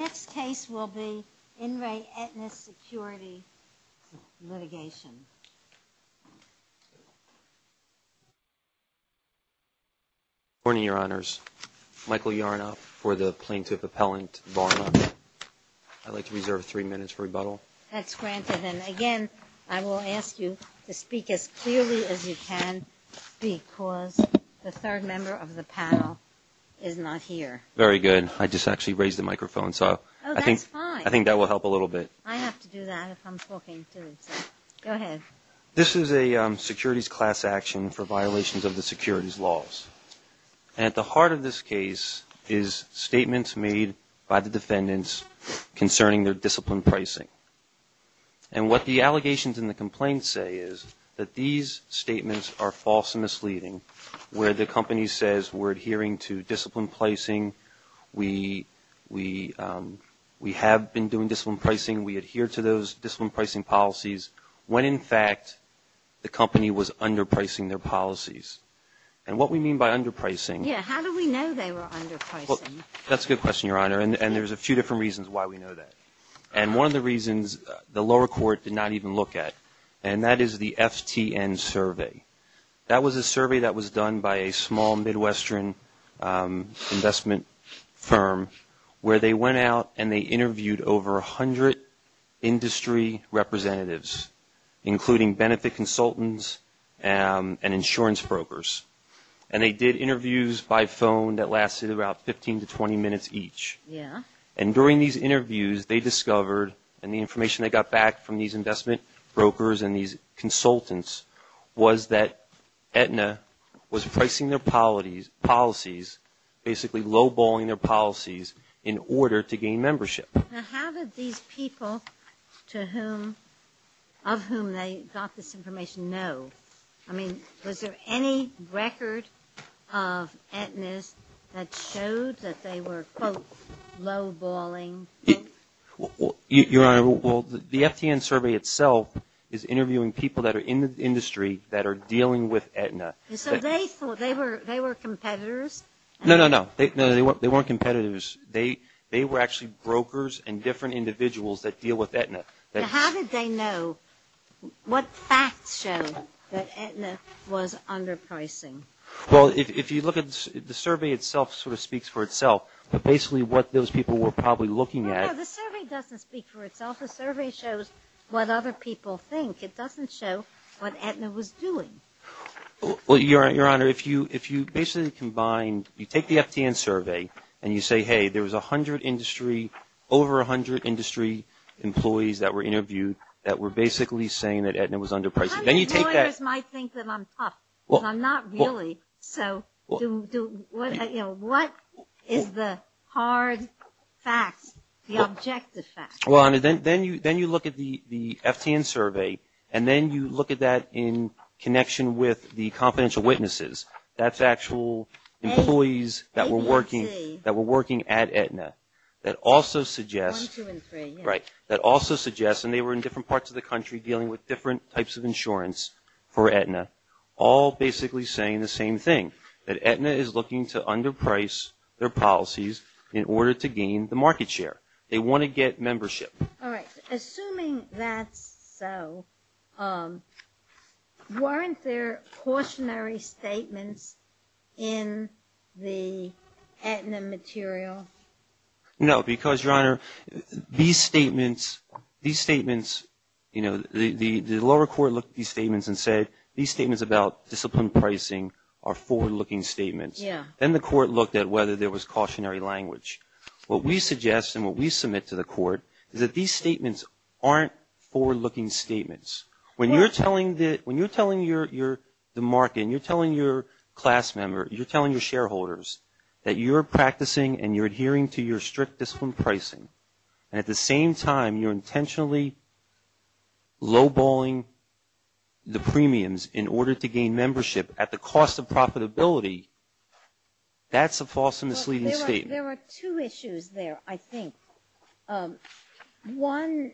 Next case will be In Re Aetna Inc Securities Lit for the plaintiff appellant, Barna. I'd like to reserve three minutes for rebuttal. That's granted. And again, I will ask you to speak as clearly as you can because the third member of the panel is not here. Very good. I just actually raised the microphone. Oh, that's fine. I think that will help a little bit. I have to do that if I'm talking too, so go ahead. This is a securities class action for violations of the securities laws. And at the heart of this case is statements made by the defendants concerning their discipline pricing. And what the allegations in the complaint say is that these statements are false and misleading, where the company says we're adhering to discipline pricing, we have been doing discipline pricing, we adhere to those discipline pricing policies, when in fact the company was underpricing their policies. And what we mean by underpricing. Yeah, how do we know they were underpricing? That's a good question, Your Honor, and there's a few different reasons why we know that. And one of the reasons the lower court did not even look at, and that is the FTN survey. That was a survey that was done by a small Midwestern investment firm where they went out and they interviewed over 100 industry representatives, including benefit consultants and insurance brokers. And they did interviews by phone that lasted about 15 to 20 minutes each. Yeah. And during these interviews, they discovered and the information they got back from these investment brokers and these consultants was that Aetna was pricing their policies, basically low-balling their policies in order to gain membership. Now, how did these people of whom they got this information know? I mean, was there any record of Aetna's that showed that they were, quote, low-balling? Your Honor, well, the FTN survey itself is interviewing people that are in the industry that are dealing with Aetna. So they thought they were competitors? No, no, no. They weren't competitors. They were actually brokers and different individuals that deal with Aetna. Now, how did they know? What facts showed that Aetna was underpricing? Well, if you look at the survey itself, it sort of speaks for itself, but basically what those people were probably looking at. No, no, the survey doesn't speak for itself. The survey shows what other people think. It doesn't show what Aetna was doing. Well, Your Honor, if you basically combine, you take the FTN survey and you say, hey, there was 100 industry, over 100 industry employees that were interviewed that were basically saying that Aetna was underpricing. Lawyers might think that I'm tough, but I'm not really. So what is the hard fact, the objective fact? Well, Your Honor, then you look at the FTN survey, and then you look at that in connection with the confidential witnesses. That's actual employees that were working at Aetna. That also suggests, right, that also suggests, and they were in different parts of the country dealing with different types of insurance for Aetna, all basically saying the same thing, that Aetna is looking to underprice their policies in order to gain the market share. They want to get membership. All right. Assuming that's so, weren't there cautionary statements in the Aetna material? No, because, Your Honor, these statements, you know, the lower court looked at these statements and said these statements about discipline pricing are forward-looking statements. Yeah. Then the court looked at whether there was cautionary language. What we suggest and what we submit to the court is that these statements aren't forward-looking statements. When you're telling the market and you're telling your class member, you're telling your shareholders that you're practicing and you're adhering to your strict discipline pricing, and at the same time you're intentionally low-balling the premiums in order to gain membership at the cost of profitability, that's a false and misleading statement. There are two issues there, I think. One,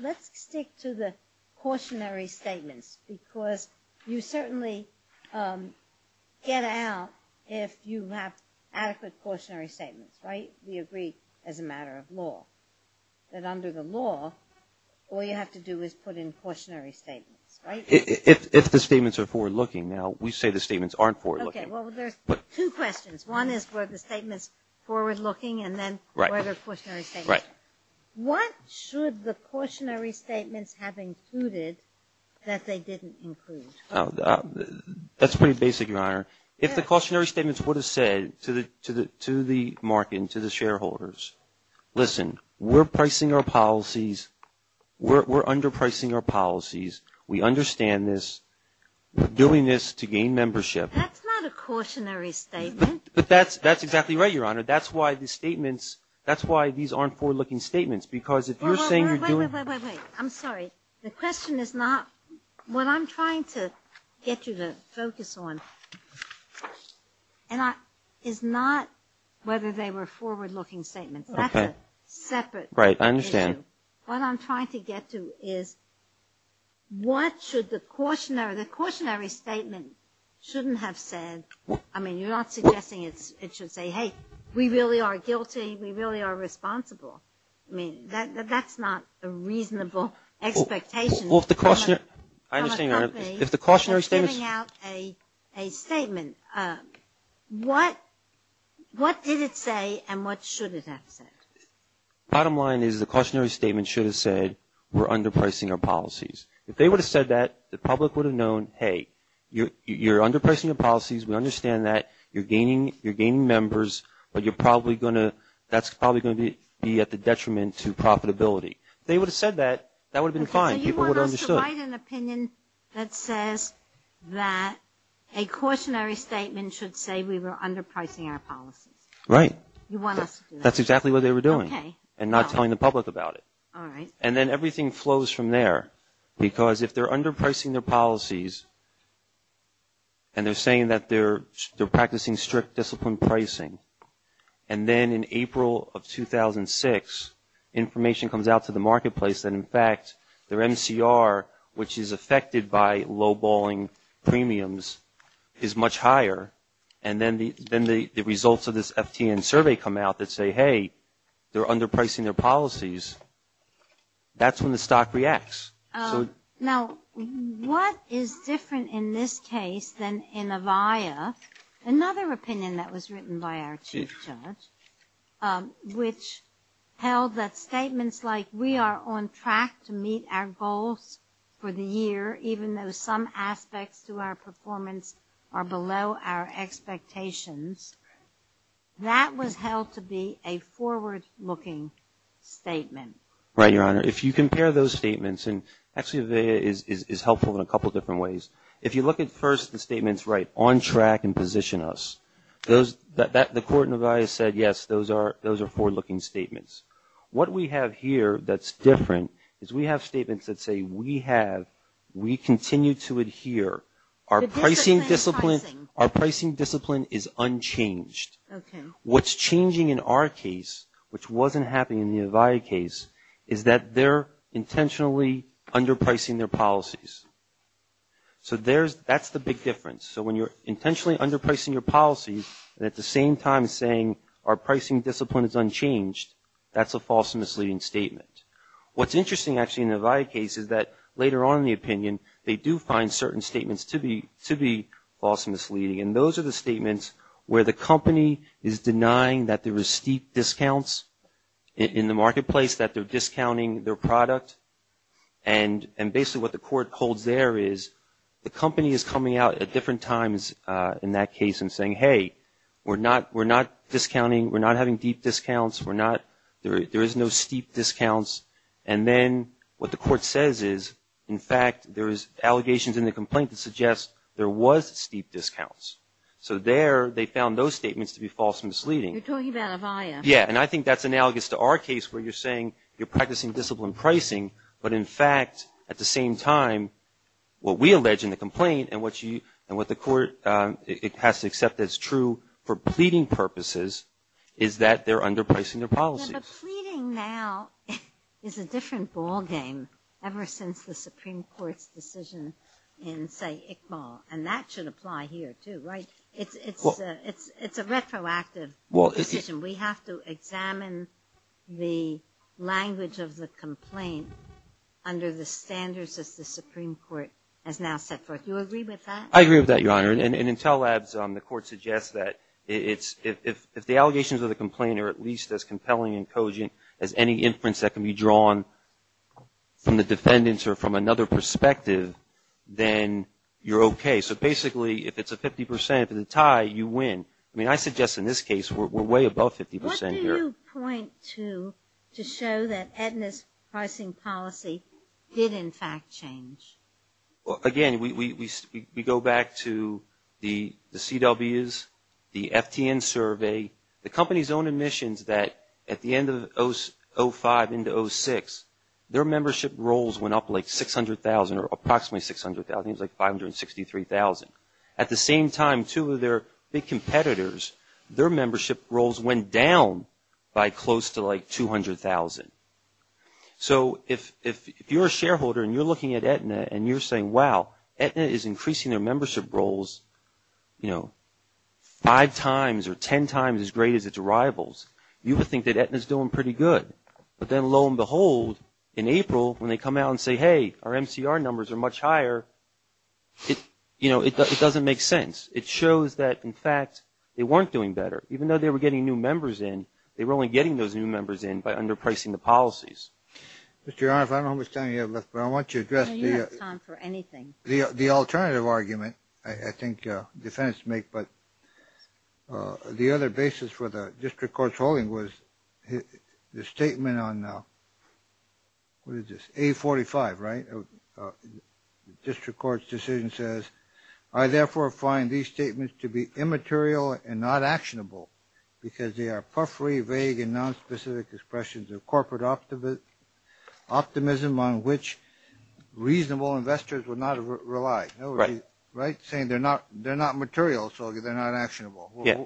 let's stick to the cautionary statements because you certainly get out if you have adequate cautionary statements, right? We agree as a matter of law that under the law all you have to do is put in cautionary statements, right? If the statements are forward-looking. Now, we say the statements aren't forward-looking. Okay. Well, there's two questions. One is were the statements forward-looking and then were there cautionary statements? Right. What should the cautionary statements have included that they didn't include? That's pretty basic, Your Honor. If the cautionary statements would have said to the market and to the shareholders, listen, we're pricing our policies, we're underpricing our policies, we understand this, we're doing this to gain membership. That's not a cautionary statement. But that's exactly right, Your Honor. That's why the statements – that's why these aren't forward-looking statements because if you're saying you're doing – Wait, wait, wait, wait, wait. I'm sorry. The question is not – what I'm trying to get you to focus on is not whether they were forward-looking statements. Okay. That's a separate issue. Right. I understand. What I'm trying to get to is what should the cautionary – the cautionary statement shouldn't have said – I mean, you're not suggesting it should say, hey, we really are guilty, we really are responsible. I mean, that's not a reasonable expectation. Well, if the cautionary – I understand, Your Honor. If the cautionary statements – I'm giving out a statement. What did it say and what should it have said? Bottom line is the cautionary statement should have said we're underpricing our policies. If they would have said that, the public would have known, hey, you're underpricing your policies. We understand that. You're gaining members, but you're probably going to – that's probably going to be at the detriment to profitability. If they would have said that, that would have been fine. People would have understood. Okay. So you want us to write an opinion that says that a cautionary statement should say we were underpricing our policies. Right. You want us to do that. That's exactly what they were doing. Okay. And not telling the public about it. All right. And then everything flows from there because if they're underpricing their policies and they're saying that they're practicing strict discipline pricing, and then in April of 2006 information comes out to the marketplace that, in fact, their MCR, which is affected by low-balling premiums, is much higher, and then the results of this FTN survey come out that say, hey, they're underpricing their policies. That's when the stock reacts. Now, what is different in this case than in Avaya, another opinion that was written by our chief judge, which held that statements like we are on track to meet our goals for the year, even though some aspects to our performance are below our expectations, that was held to be a forward-looking statement. Right, Your Honor. If you compare those statements, and actually Avaya is helpful in a couple different ways. If you look at first the statements, right, on track and position us, the court in Avaya said, yes, those are forward-looking statements. What we have here that's different is we have statements that say we have, we continue to adhere. Our pricing discipline is unchanged. Okay. What's changing in our case, which wasn't happening in the Avaya case, is that they're intentionally underpricing their policies. So that's the big difference. So when you're intentionally underpricing your policies, and at the same time saying our pricing discipline is unchanged, that's a false misleading statement. What's interesting actually in the Avaya case is that later on in the opinion, they do find certain statements to be false misleading, and those are the statements where the company is denying that there are steep discounts in the marketplace, that they're discounting their product. And basically what the court holds there is the company is coming out at different times in that case and saying, hey, we're not discounting, we're not having deep discounts, we're not, there is no steep discounts. And then what the court says is, in fact, there is allegations in the complaint that suggest there was steep discounts. So there they found those statements to be false misleading. You're talking about Avaya. Yeah, and I think that's analogous to our case where you're saying you're practicing discipline pricing, but in fact, at the same time, what we allege in the complaint and what the court has to accept as true for pleading purposes is that they're underpricing their policies. But pleading now is a different ballgame ever since the Supreme Court's decision in, say, Iqbal, and that should apply here too, right? It's a retroactive decision. We have to examine the language of the complaint under the standards that the Supreme Court has now set forth. Do you agree with that? I agree with that, Your Honor. In Intel Labs, the court suggests that if the allegations of the complaint are at least as compelling and cogent as any inference that can be drawn from the defendants or from another perspective, then you're okay. So basically, if it's a 50 percent, if it's a tie, you win. I mean, I suggest in this case we're way above 50 percent here. What do you point to to show that Aetna's pricing policy did, in fact, change? Again, we go back to the CWs, the FTN survey, the company's own admissions that at the end of 05 into 06, their membership rolls went up like 600,000 or approximately 600,000. It was like 563,000. At the same time, two of their big competitors, their membership rolls went down by close to like 200,000. So if you're a shareholder and you're looking at Aetna and you're saying, wow, Aetna is increasing their membership rolls, you know, five times or ten times as great as its rivals, you would think that Aetna's doing pretty good. But then lo and behold, in April, when they come out and say, hey, our MCR numbers are much higher, you know, it doesn't make sense. It shows that, in fact, they weren't doing better. Even though they were getting new members in, they were only getting those new members in by underpricing the policies. Mr. Your Honor, I don't know how much time you have left, but I want you to address the alternative argument I think defendants make. But the other basis for the district court's ruling was the statement on, what is this, 845, right? The district court's decision says, I therefore find these statements to be immaterial and not actionable because they are puffery, vague, and nonspecific expressions of corporate optimism on which reasonable investors would not rely. Right. Right, saying they're not material, so they're not actionable. Yeah.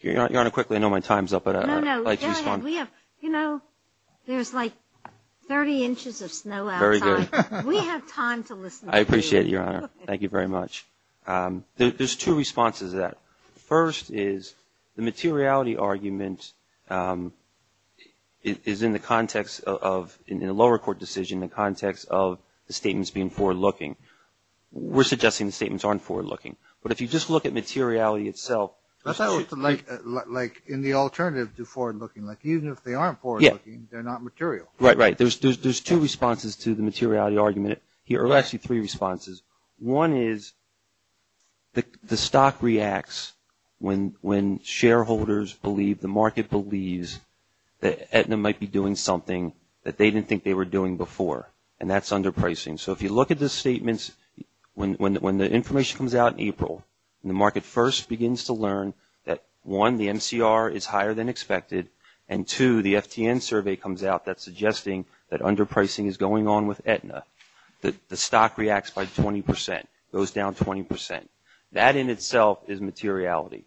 Your Honor, quickly, I know my time's up, but I'd like to respond. No, no, go ahead. We have, you know, there's like 30 inches of snow outside. Very good. We have time to listen. I appreciate it, Your Honor. Thank you very much. There's two responses to that. First is the materiality argument is in the context of, in a lower court decision, the context of the statements being forward-looking. We're suggesting the statements aren't forward-looking. But if you just look at materiality itself. Like in the alternative to forward-looking, like even if they aren't forward-looking, they're not material. Right, right. There's two responses to the materiality argument here, or actually three responses. One is the stock reacts when shareholders believe, the market believes, that Aetna might be doing something that they didn't think they were doing before, and that's underpricing. So if you look at the statements, when the information comes out in April, and the market first begins to learn that, one, the MCR is higher than expected, and, two, the FTN survey comes out that's suggesting that underpricing is going on with Aetna, that the stock reacts by 20 percent, goes down 20 percent. That in itself is materiality.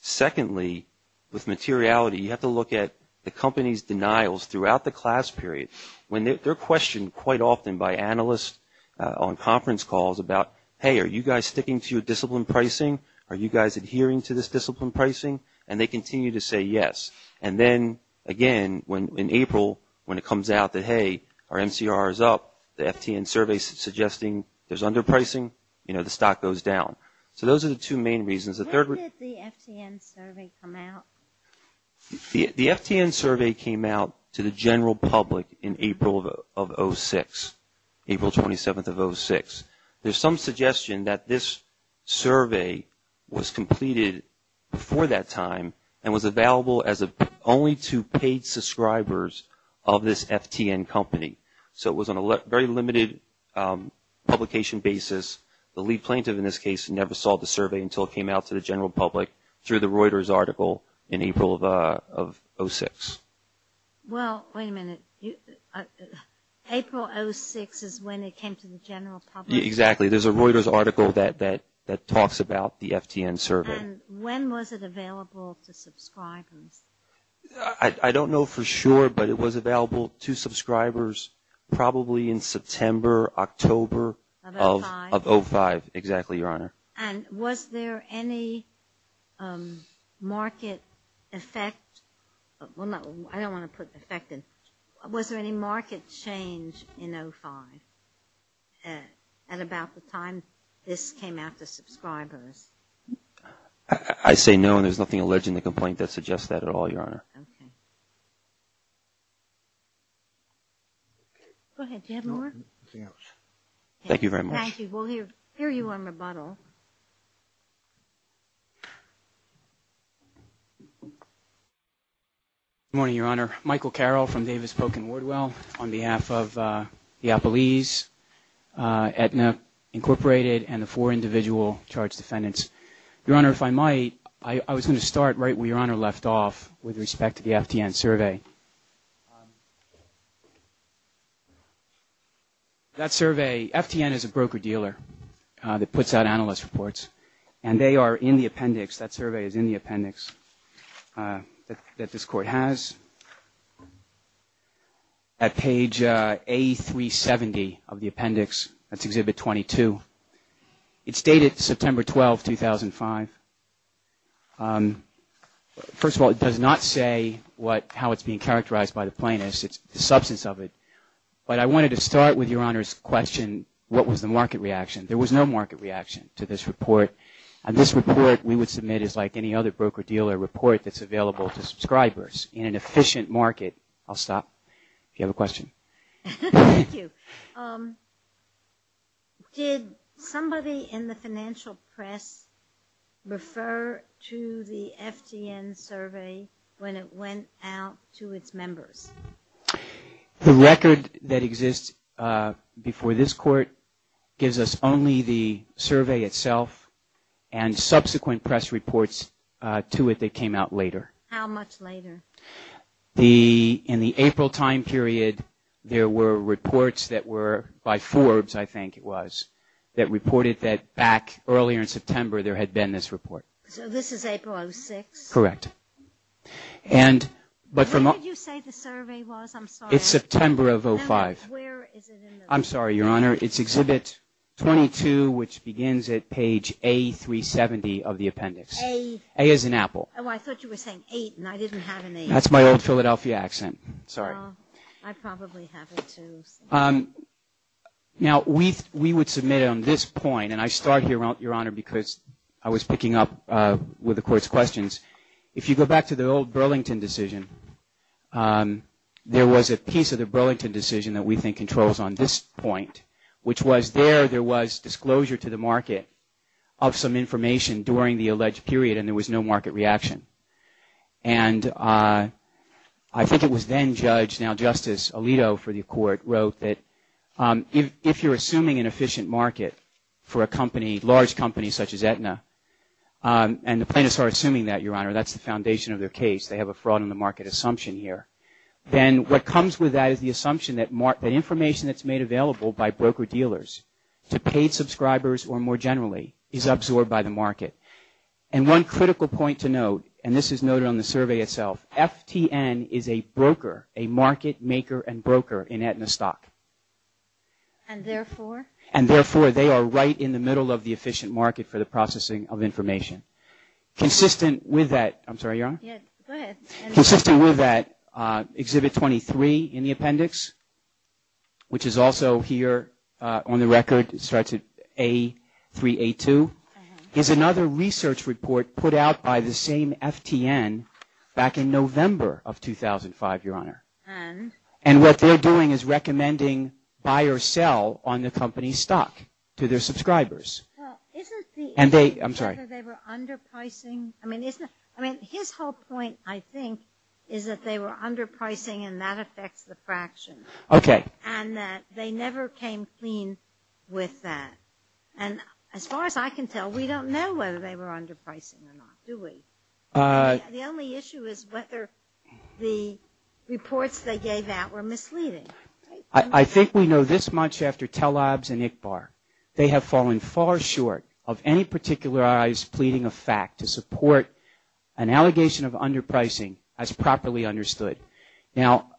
Secondly, with materiality, you have to look at the company's denials throughout the class period. They're questioned quite often by analysts on conference calls about, hey, are you guys sticking to your discipline pricing? Are you guys adhering to this discipline pricing? And they continue to say yes. And then, again, in April, when it comes out that, hey, our MCR is up, the FTN survey is suggesting there's underpricing, the stock goes down. So those are the two main reasons. When did the FTN survey come out? The FTN survey came out to the general public in April of 2006, April 27th of 2006. There's some suggestion that this survey was completed before that time and was available only to paid subscribers of this FTN company. So it was on a very limited publication basis. The lead plaintiff, in this case, never saw the survey until it came out to the general public through the Reuters article in April of 2006. Well, wait a minute. April of 2006 is when it came to the general public? Exactly. There's a Reuters article that talks about the FTN survey. And when was it available to subscribers? I don't know for sure, but it was available to subscribers probably in September, October of 2005, exactly, Your Honor. And was there any market effect? Well, I don't want to put effect in. Was there any market change in 2005 at about the time this came out to subscribers? I say no, and there's nothing alleged in the complaint that suggests that at all, Your Honor. Okay. Go ahead. Do you have more? Nothing else. Thank you very much. Thank you. We'll hear you on rebuttal. Good morning, Your Honor. Michael Carroll from Davis Polk & Wardwell on behalf of Diapolese, Aetna Incorporated, and the four individual charged defendants. Your Honor, if I might, I was going to start right where Your Honor left off with respect to the FTN survey. That survey, FTN is a broker-dealer that puts out analyst reports, and they are in the appendix, that survey is in the appendix that this Court has at page A370 of the appendix, that's Exhibit 22. It's dated September 12, 2005. First of all, it does not say how it's being characterized by the plaintiffs. It's the substance of it. But I wanted to start with Your Honor's question, what was the market reaction? There was no market reaction to this report, and this report we would submit is like any other broker-dealer report that's available to subscribers in an efficient market. I'll stop if you have a question. Thank you. Did somebody in the financial press refer to the FTN survey when it went out to its members? The record that exists before this Court gives us only the survey itself and subsequent press reports to it that came out later. How much later? In the April time period, there were reports that were by Forbes, I think it was, that reported that back earlier in September there had been this report. So this is April of 2006? Correct. When did you say the survey was? I'm sorry. It's September of 2005. Where is it in the report? I'm sorry, Your Honor. It's Exhibit 22, which begins at page A370 of the appendix. A? A is an apple. Oh, I thought you were saying eight, and I didn't have an eight. That's my old Philadelphia accent. Sorry. I probably have it, too. Now, we would submit on this point, and I start here, Your Honor, because I was picking up with the Court's questions. If you go back to the old Burlington decision, there was a piece of the Burlington decision that we think controls on this point, which was there there was disclosure to the market of some information during the alleged period, and there was no market reaction. And I think it was then-judge, now Justice Alito for the Court, wrote that if you're assuming an efficient market for a company, large companies such as Aetna, and the plaintiffs are assuming that, Your Honor, that's the foundation of their case. They have a fraud in the market assumption here. Then what comes with that is the assumption that information that's made available by broker-dealers to paid subscribers or, more generally, is absorbed by the market. And one critical point to note, and this is noted on the survey itself, FTN is a broker, a market maker and broker in Aetna stock. And therefore? And therefore, they are right in the middle of the efficient market for the processing of information. Consistent with that, I'm sorry, Your Honor. Yes, go ahead. Consistent with that, Exhibit 23 in the appendix, which is also here on the record, starts at A3A2, is another research report put out by the same FTN back in November of 2005, Your Honor. And? And what they're doing is recommending buy or sell on the company's stock to their subscribers. Well, isn't the- And they, I'm sorry. They were underpricing. I mean, isn't it? I mean, his whole point, I think, is that they were underpricing and that affects the fraction. Okay. And that they never came clean with that. And as far as I can tell, we don't know whether they were underpricing or not, do we? The only issue is whether the reports they gave out were misleading. I think we know this much after Tellabs and ICBAR. They have fallen far short of any particularized pleading of fact to support an allegation of underpricing as properly understood. Now,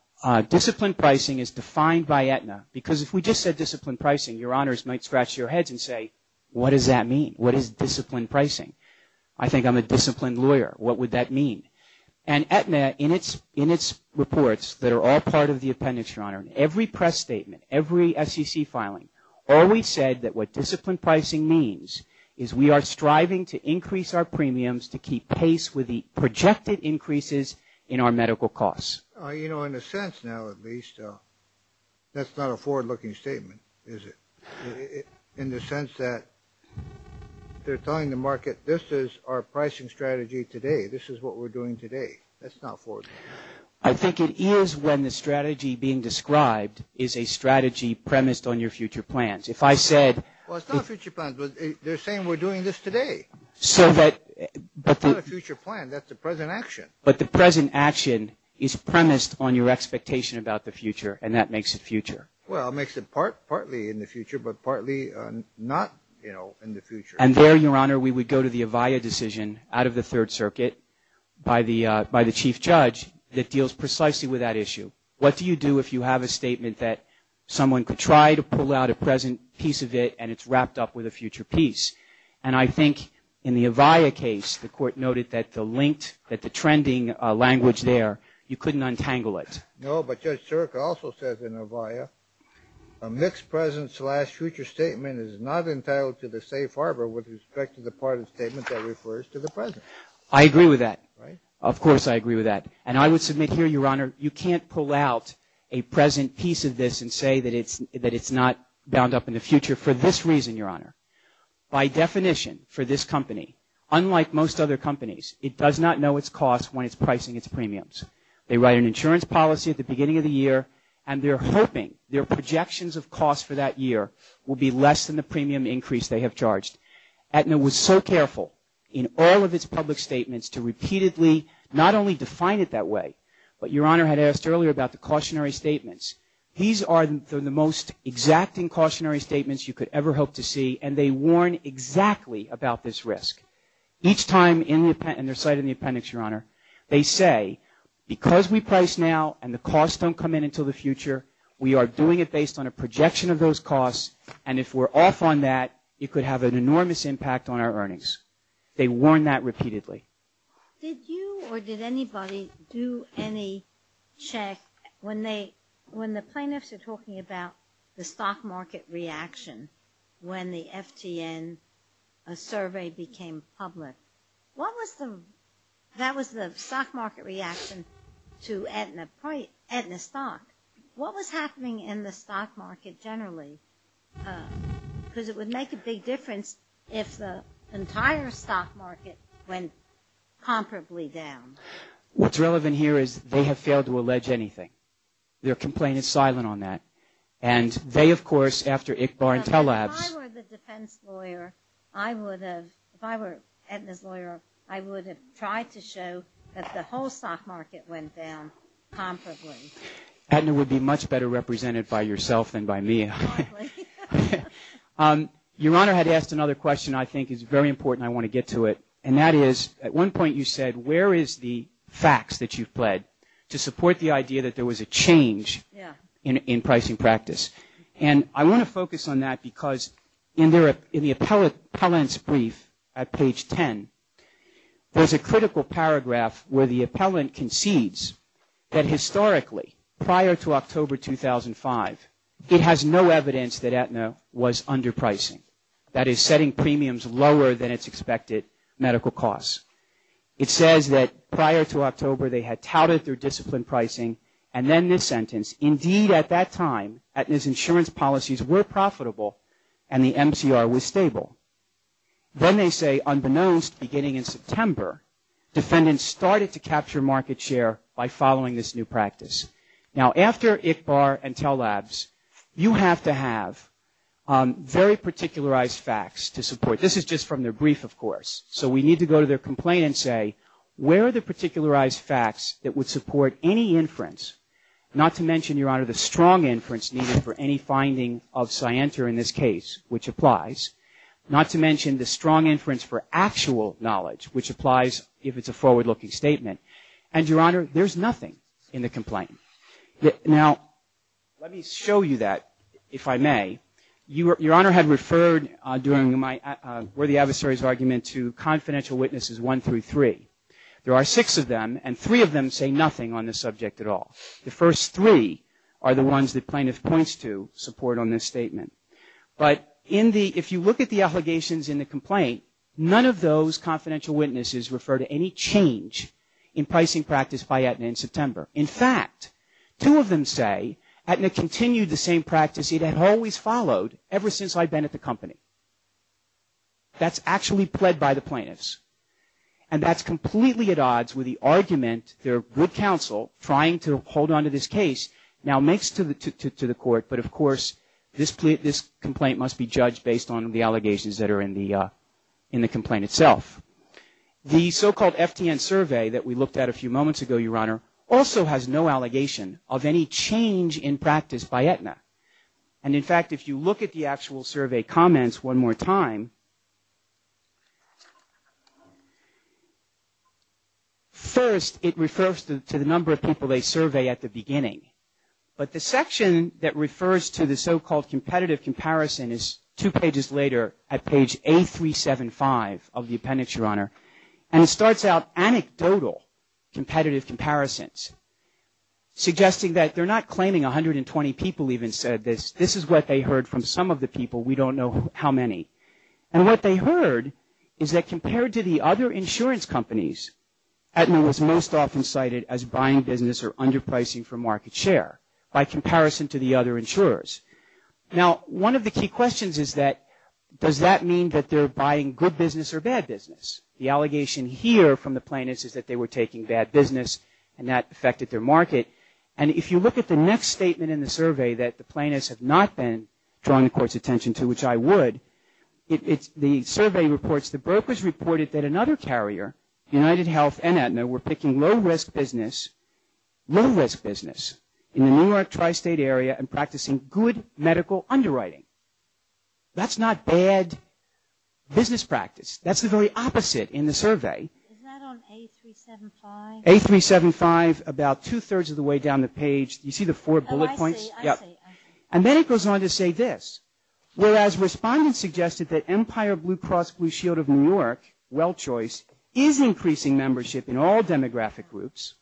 disciplined pricing is defined by Aetna because if we just said disciplined pricing, Your Honors might scratch your heads and say, what does that mean? What is disciplined pricing? I think I'm a disciplined lawyer. What would that mean? And Aetna, in its reports that are all part of the appendix, Your Honor, in every press statement, every SEC filing, always said that what disciplined pricing means is we are striving to increase our premiums to keep pace with the projected increases in our medical costs. You know, in a sense now, at least, that's not a forward-looking statement, is it? In the sense that they're telling the market, this is our pricing strategy today. This is what we're doing today. That's not forward-looking. I think it is when the strategy being described is a strategy premised on your future plans. Well, it's not future plans, but they're saying we're doing this today. It's not a future plan. That's the present action. But the present action is premised on your expectation about the future, and that makes it future. Well, it makes it partly in the future, but partly not, you know, in the future. And there, Your Honor, we would go to the Avaya decision out of the Third Circuit by the chief judge that deals precisely with that issue. What do you do if you have a statement that someone could try to pull out a present piece of it and it's wrapped up with a future piece? And I think in the Avaya case, the court noted that the linked, that the trending language there, you couldn't untangle it. No, but Judge Cirica also says in Avaya, a mixed present slash future statement is not entitled to the safe harbor with respect to the part of the statement that refers to the present. I agree with that. Right? Of course I agree with that. And I would submit here, Your Honor, you can't pull out a present piece of this and say that it's not bound up in the future for this reason, Your Honor. By definition, for this company, unlike most other companies, it does not know its costs when it's pricing its premiums. They write an insurance policy at the beginning of the year and they're hoping their projections of costs for that year will be less than the premium increase they have charged. Aetna was so careful in all of its public statements to repeatedly not only define it that way, but Your Honor had asked earlier about the cautionary statements. These are the most exacting cautionary statements you could ever hope to see and they warn exactly about this risk. Each time in their site in the appendix, Your Honor, they say, because we price now and the costs don't come in until the future, we are doing it based on a projection of those costs and if we're off on that, it could have an enormous impact on our earnings. They warn that repeatedly. Did you or did anybody do any check when the plaintiffs are talking about the stock market reaction when the FTN survey became public? That was the stock market reaction to Aetna stock. What was happening in the stock market generally? Because it would make a big difference if the entire stock market went comparably down. What's relevant here is they have failed to allege anything. Their complaint is silent on that. And they, of course, after Ickbar and Tellabs If I were the defense lawyer, I would have, if I were Aetna's lawyer, I would have tried to show that the whole stock market went down comparably. Aetna would be much better represented by yourself than by me. Your Honor had asked another question I think is very important, I want to get to it. And that is, at one point you said, where is the facts that you've pled to support the idea that there was a change in pricing practice? And I want to focus on that because in the appellant's brief at page 10, there's a critical paragraph where the appellant concedes that historically, prior to October 2005, it has no evidence that Aetna was underpricing. That is, setting premiums lower than its expected medical costs. It says that prior to October they had touted their disciplined pricing, and then this sentence, indeed at that time, Aetna's insurance policies were profitable and the MCR was stable. Then they say, unbeknownst, beginning in September, defendants started to capture market share by following this new practice. Now, after ICHBAR and TELLABS, you have to have very particularized facts to support. This is just from their brief, of course. So we need to go to their complaint and say, where are the particularized facts that would support any inference, not to mention, Your Honor, the strong inference needed for any finding of Scienter in this case, which applies. Not to mention the strong inference for actual knowledge, which applies if it's a forward-looking statement. And, Your Honor, there's nothing in the complaint. Now, let me show you that, if I may. Your Honor had referred during my worthy adversary's argument to confidential witnesses one through three. There are six of them, and three of them say nothing on the subject at all. The first three are the ones the plaintiff points to support on this statement. But if you look at the allegations in the complaint, none of those confidential witnesses refer to any change in pricing practice by Aetna in September. In fact, two of them say Aetna continued the same practice it had always followed ever since I'd been at the company. That's actually pled by the plaintiffs. And that's completely at odds with the argument their good counsel, trying to hold on to this case, now makes to the court. But, of course, this complaint must be judged based on the allegations that are in the complaint itself. The so-called FTN survey that we looked at a few moments ago, Your Honor, also has no allegation of any change in practice by Aetna. And, in fact, if you look at the actual survey comments one more time, first it refers to the number of people they survey at the beginning. But the section that refers to the so-called competitive comparison is two pages later at page A375 of the appendix, Your Honor. And it starts out anecdotal competitive comparisons, suggesting that they're not claiming 120 people even said this. This is what they heard from some of the people. We don't know how many. And what they heard is that compared to the other insurance companies, Aetna was most often cited as buying business or underpricing for market share by comparison to the other insurers. Now, one of the key questions is that does that mean that they're buying good business or bad business? The allegation here from the plaintiffs is that they were taking bad business and that affected their market. And if you look at the next statement in the survey that the plaintiffs have not been paying the court's attention to, which I would, the survey reports, the brokers reported that another carrier, UnitedHealth and Aetna, were picking low-risk business in the New York tri-state area and practicing good medical underwriting. That's not bad business practice. That's the very opposite in the survey. Is that on A375? A375, about two-thirds of the way down the page. You see the four bullet points? I see. And then it goes on to say this. Whereas respondents suggested that Empire Blue Cross Blue Shield of New York, well choice, is increasing membership in all demographic groups.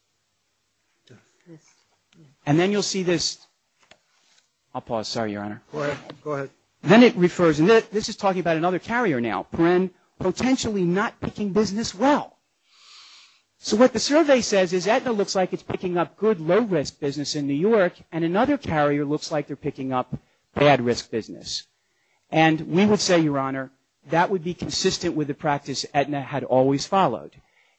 And then you'll see this. I'll pause. Sorry, Your Honor. Go ahead. Then it refers, and this is talking about another carrier now, potentially not picking business well. So what the survey says is Aetna looks like it's picking up good low-risk business in New York and another carrier looks like they're picking up bad-risk business. And we would say, Your Honor, that would be consistent with the practice Aetna had always followed.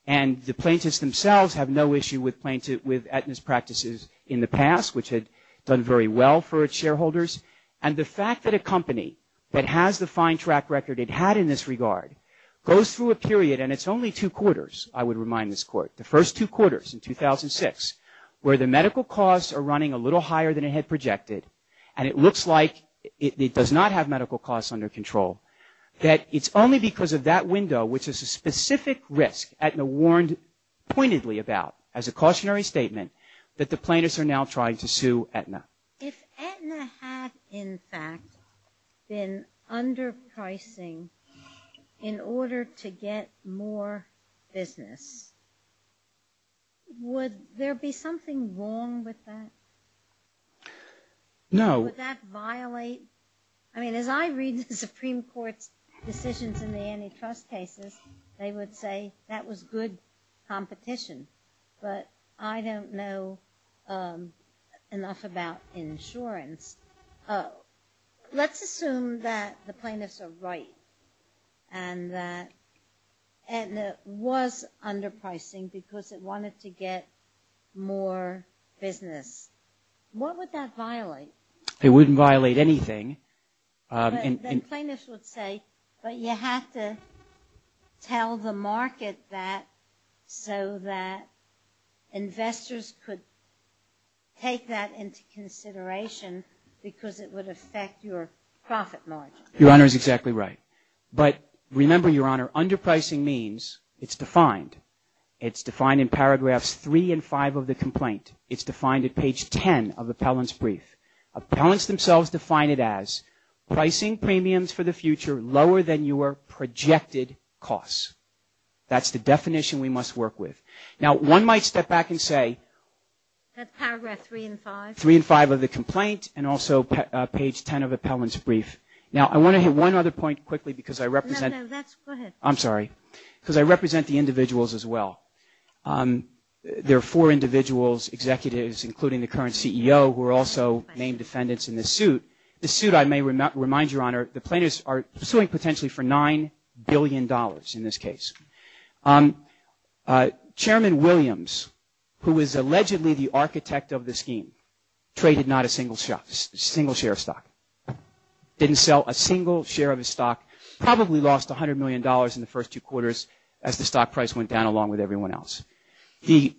And the plaintiffs themselves have no issue with Aetna's practices in the past, which had done very well for its shareholders. And the fact that a company that has the fine track record it had in this regard goes through a period, and it's only two quarters, I would remind this Court, the first two quarters in 2006, where the medical costs are running a little higher than it had projected and it looks like it does not have medical costs under control, that it's only because of that window, which is a specific risk Aetna warned pointedly about as a cautionary statement, that the plaintiffs are now trying to sue Aetna. If Aetna had, in fact, been underpricing in order to get more business, would there be something wrong with that? No. Would that violate? I mean, as I read the Supreme Court's decisions in the antitrust cases, they would say that was good competition. But I don't know enough about insurance. Let's assume that the plaintiffs are right and that Aetna was underpricing because it wanted to get more business. What would that violate? It wouldn't violate anything. Then plaintiffs would say, but you have to tell the market that so that investors could take that into consideration because it would affect your profit margin. Your Honor is exactly right. But remember, Your Honor, underpricing means it's defined. It's defined in paragraphs 3 and 5 of the complaint. It's defined at page 10 of Appellant's brief. Appellants themselves define it as pricing premiums for the future lower than your projected costs. That's the definition we must work with. Now, one might step back and say- That's paragraph 3 and 5? 3 and 5 of the complaint and also page 10 of Appellant's brief. Now, I want to hit one other point quickly because I represent- No, no. Go ahead. I'm sorry. Because I represent the individuals as well. There are four individuals, executives, including the current CEO, who are also named defendants in this suit. This suit, I may remind Your Honor, the plaintiffs are suing potentially for $9 billion in this case. Chairman Williams, who is allegedly the architect of the scheme, traded not a single share of stock, didn't sell a single share of his stock, probably lost $100 million in the first two quarters as the stock price went down along with everyone else. The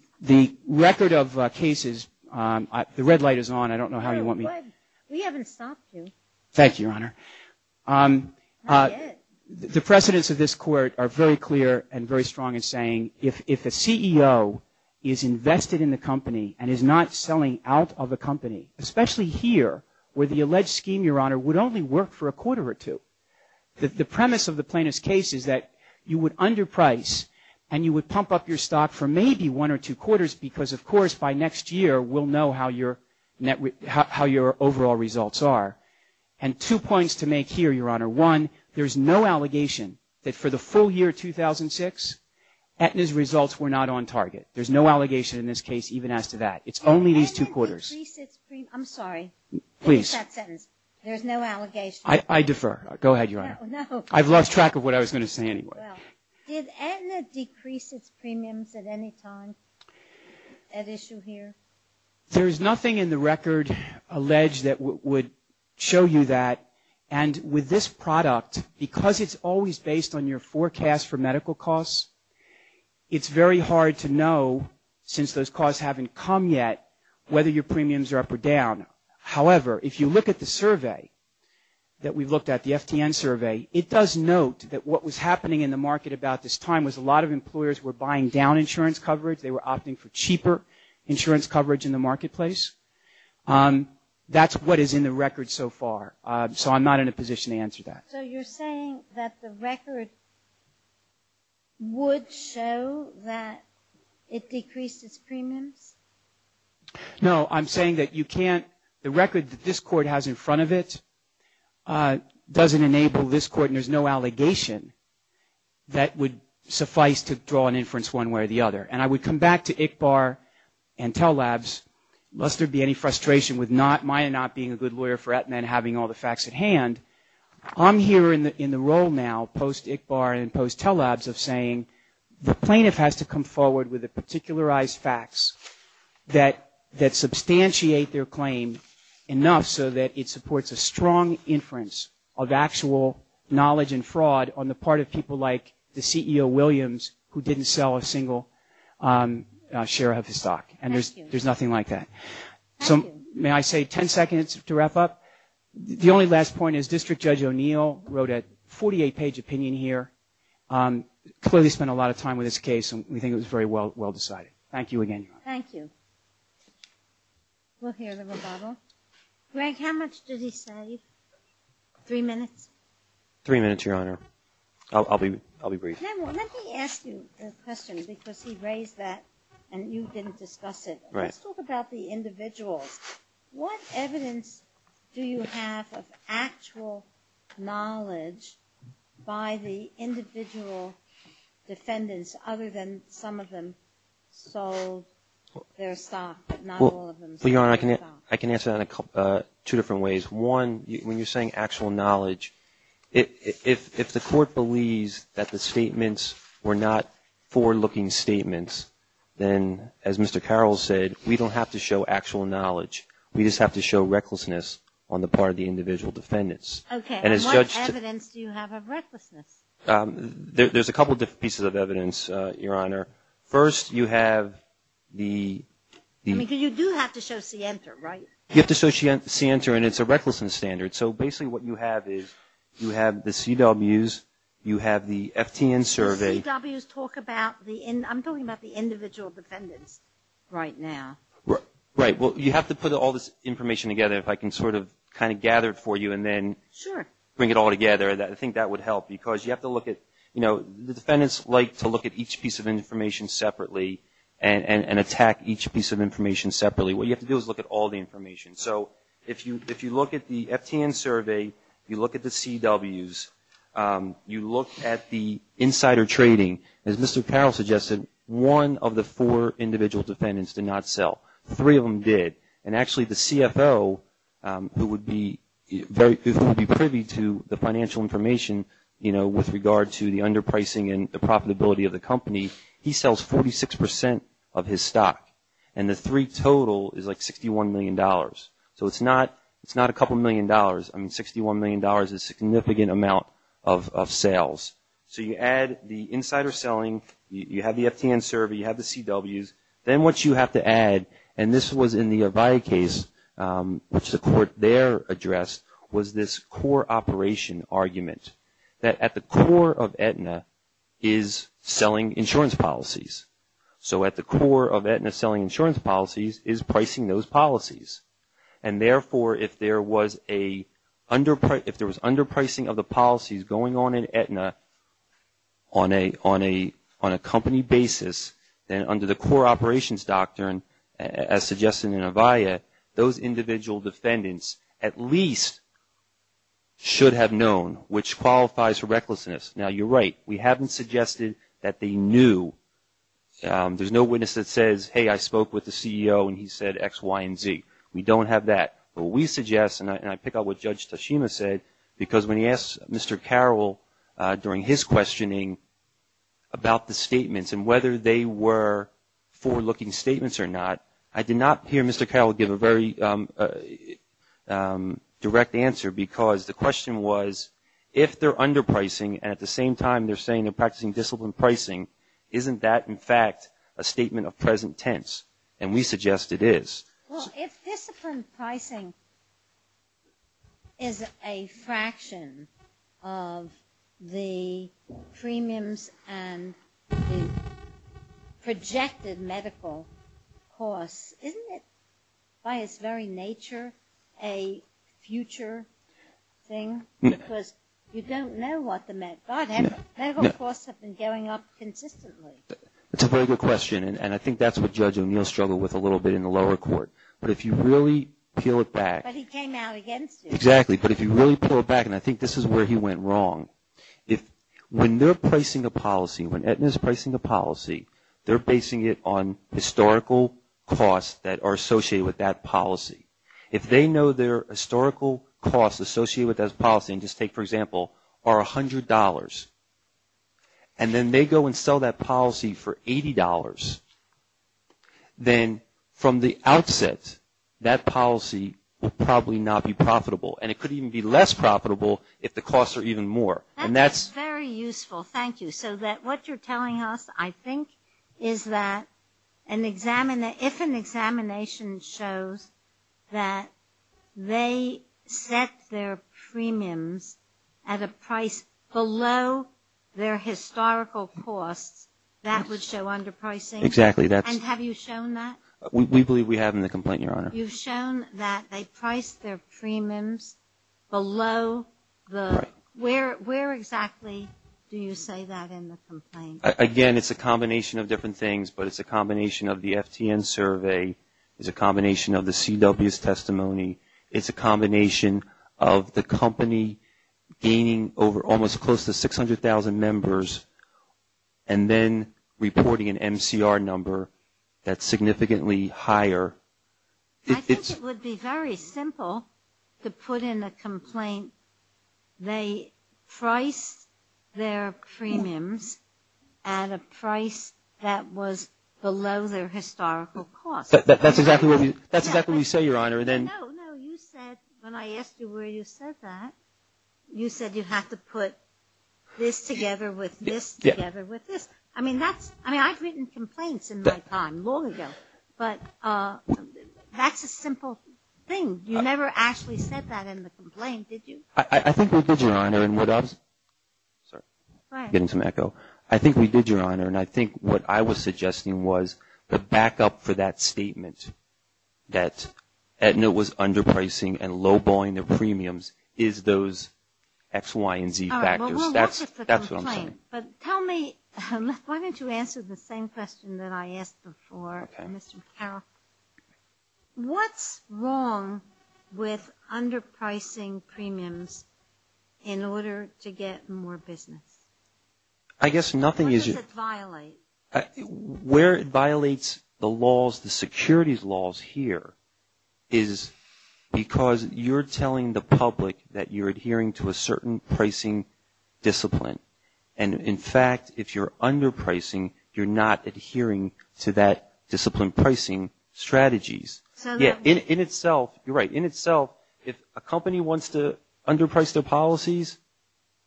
record of cases- The red light is on. I don't know how you want me- We haven't stopped you. Thank you, Your Honor. The precedents of this court are very clear and very strong in saying if a CEO is invested in the company and is not selling out of a company, especially here where the alleged scheme, Your Honor, would only work for a quarter or two, the premise of the plaintiff's case is that you would underprice and you would pump up your stock for maybe one or two quarters because, of course, by next year we'll know how your overall results are. And two points to make here, Your Honor. One, there's no allegation that for the full year 2006, Aetna's results were not on target. There's no allegation in this case even as to that. It's only these two quarters. I'm sorry. Please. Finish that sentence. There's no allegation. I defer. Go ahead, Your Honor. I've lost track of what I was going to say anyway. Did Aetna decrease its premiums at any time at issue here? There's nothing in the record alleged that would show you that. And with this product, because it's always based on your forecast for medical costs, it's very hard to know, since those costs haven't come yet, whether your premiums are up or down. However, if you look at the survey that we've looked at, the FTN survey, it does note that what was happening in the market about this time was a lot of employers were buying down insurance coverage. They were opting for cheaper insurance coverage in the marketplace. That's what is in the record so far. So I'm not in a position to answer that. So you're saying that the record would show that it decreased its premiums? No, I'm saying that you can't – the record that this Court has in front of it doesn't enable this Court, and there's no allegation that would suffice to draw an inference one way or the other. And I would come back to ICBAR and Tell Labs, lest there be any frustration with my not being a good lawyer for Aetna and having all the facts at hand. I'm here in the role now, post-ICBAR and post-Tell Labs, of saying the plaintiff has to come forward with the particularized facts that substantiate their claim enough so that it supports a strong inference of actual knowledge and fraud on the part of people like the CEO, Williams, who didn't sell a single share of his stock. And there's nothing like that. So may I say 10 seconds to wrap up? The only last point is District Judge O'Neill wrote a 48-page opinion here, clearly spent a lot of time with this case, and we think it was very well decided. Thank you again, Your Honor. Thank you. We'll hear the rebuttal. Greg, how much did he say? Three minutes? Three minutes, Your Honor. I'll be brief. Let me ask you a question because he raised that and you didn't discuss it. Let's talk about the individuals. What evidence do you have of actual knowledge by the individual defendants other than some of them sold their stock but not all of them sold their stock? Well, Your Honor, I can answer that in two different ways. One, when you're saying actual knowledge, if the Court believes that the statements were not forward-looking statements, then, as Mr. Carroll said, we don't have to show actual knowledge. We just have to show recklessness on the part of the individual defendants. Okay. And what evidence do you have of recklessness? There's a couple of different pieces of evidence, Your Honor. First, you have the ---- I mean, you do have to show scienter, right? You have to show scienter, and it's a recklessness standard. So basically what you have is you have the CWs, you have the FTN survey. The CWs talk about the individual defendants right now. Right. Well, you have to put all this information together. If I can sort of kind of gather it for you and then bring it all together, I think that would help because you have to look at, you know, the defendants like to look at each piece of information separately and attack each piece of information separately. What you have to do is look at all the information. So if you look at the FTN survey, you look at the CWs, you look at the insider trading. As Mr. Carroll suggested, one of the four individual defendants did not sell. Three of them did. And actually the CFO who would be privy to the financial information, you know, with regard to the underpricing and the profitability of the company, he sells 46% of his stock. And the three total is like $61 million. So it's not a couple million dollars. I mean $61 million is a significant amount of sales. So you add the insider selling. You have the FTN survey. You have the CWs. Then what you have to add, and this was in the Avaya case, which the court there addressed was this core operation argument that at the core of Aetna is selling insurance policies. So at the core of Aetna selling insurance policies is pricing those policies. And, therefore, if there was underpricing of the policies going on in Aetna on a company basis, then under the core operations doctrine, as suggested in Avaya, those individual defendants at least should have known, which qualifies for recklessness. Now you're right. We haven't suggested that they knew. There's no witness that says, hey, I spoke with the CEO and he said X, Y, and Z. We don't have that. But we suggest, and I pick up what Judge Tashima said, because when he asked Mr. Carroll during his questioning about the statements and whether they were forward-looking statements or not, I did not hear Mr. Carroll give a very direct answer because the question was if they're underpricing and at the same time they're saying they're practicing disciplined pricing, isn't that, in fact, a statement of present tense? And we suggest it is. Well, if disciplined pricing is a fraction of the premiums and the projected medical costs, isn't it by its very nature a future thing? Because you don't know what the medical costs have been going up consistently. That's a very good question, and I think that's what Judge O'Neill struggled with a little bit in the lower court. But if you really peel it back. But he came out against it. Exactly. But if you really pull it back, and I think this is where he went wrong, when they're pricing a policy, when Aetna's pricing a policy, they're basing it on historical costs that are associated with that policy. If they know their historical costs associated with that policy, and just take, for example, are $100, and then they go and sell that policy for $80, then from the outset that policy will probably not be profitable. And it could even be less profitable if the costs are even more. That's very useful. Thank you. So what you're telling us, I think, is that if an examination shows that they set their premiums at a price below their historical costs, that would show underpricing? Exactly. And have you shown that? We believe we have in the complaint, Your Honor. You've shown that they priced their premiums below the – where exactly do you say that in the complaint? Again, it's a combination of different things, but it's a combination of the FTN survey. It's a combination of the CW's testimony. It's a combination of the company gaining over almost close to 600,000 members and then reporting an MCR number that's significantly higher. I think it would be very simple to put in a complaint they priced their premiums at a price that was below their historical costs. No, no. You said when I asked you where you said that, you said you have to put this together with this together with this. I mean, I've written complaints in my time long ago, but that's a simple thing. You never actually said that in the complaint, did you? I think we did, Your Honor. I think we did, Your Honor. But back up for that statement that Aetna was underpricing and low-buying their premiums is those X, Y, and Z factors. That's what I'm saying. Tell me – why don't you answer the same question that I asked before, Mr. Carroll. What's wrong with underpricing premiums in order to get more business? I guess nothing is – What does it violate? Where it violates the laws, the securities laws here, is because you're telling the public that you're adhering to a certain pricing discipline. And, in fact, if you're underpricing, you're not adhering to that discipline pricing strategies. In itself, you're right, in itself, if a company wants to underprice their policies,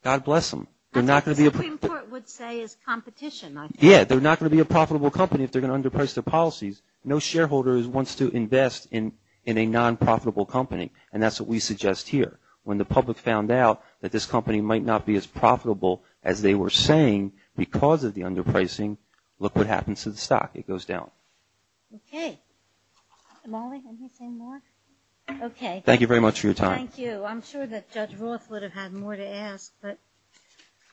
God bless them. What Supreme Court would say is competition, I think. Yeah, they're not going to be a profitable company if they're going to underprice their policies. No shareholder wants to invest in a non-profitable company. And that's what we suggest here. When the public found out that this company might not be as profitable as they were saying because of the underpricing, look what happens to the stock. It goes down. Okay. Molly, anything more? Okay. Thank you very much for your time. Thank you. I'm sure that Judge Roth would have had more to ask, but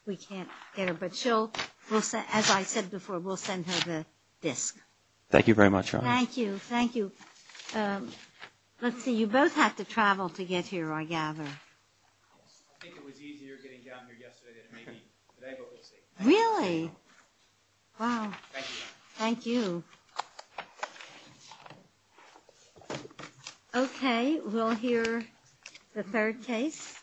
we can't get her. But she'll, as I said before, we'll send her the disk. Thank you very much, Your Honor. Thank you. Thank you. Let's see, you both have to travel to get here, I gather. I think it was easier getting down here yesterday than it may be today, but we'll see. Really? Wow. Thank you, Your Honor. Thank you. Thank you. Okay. We'll hear the third case.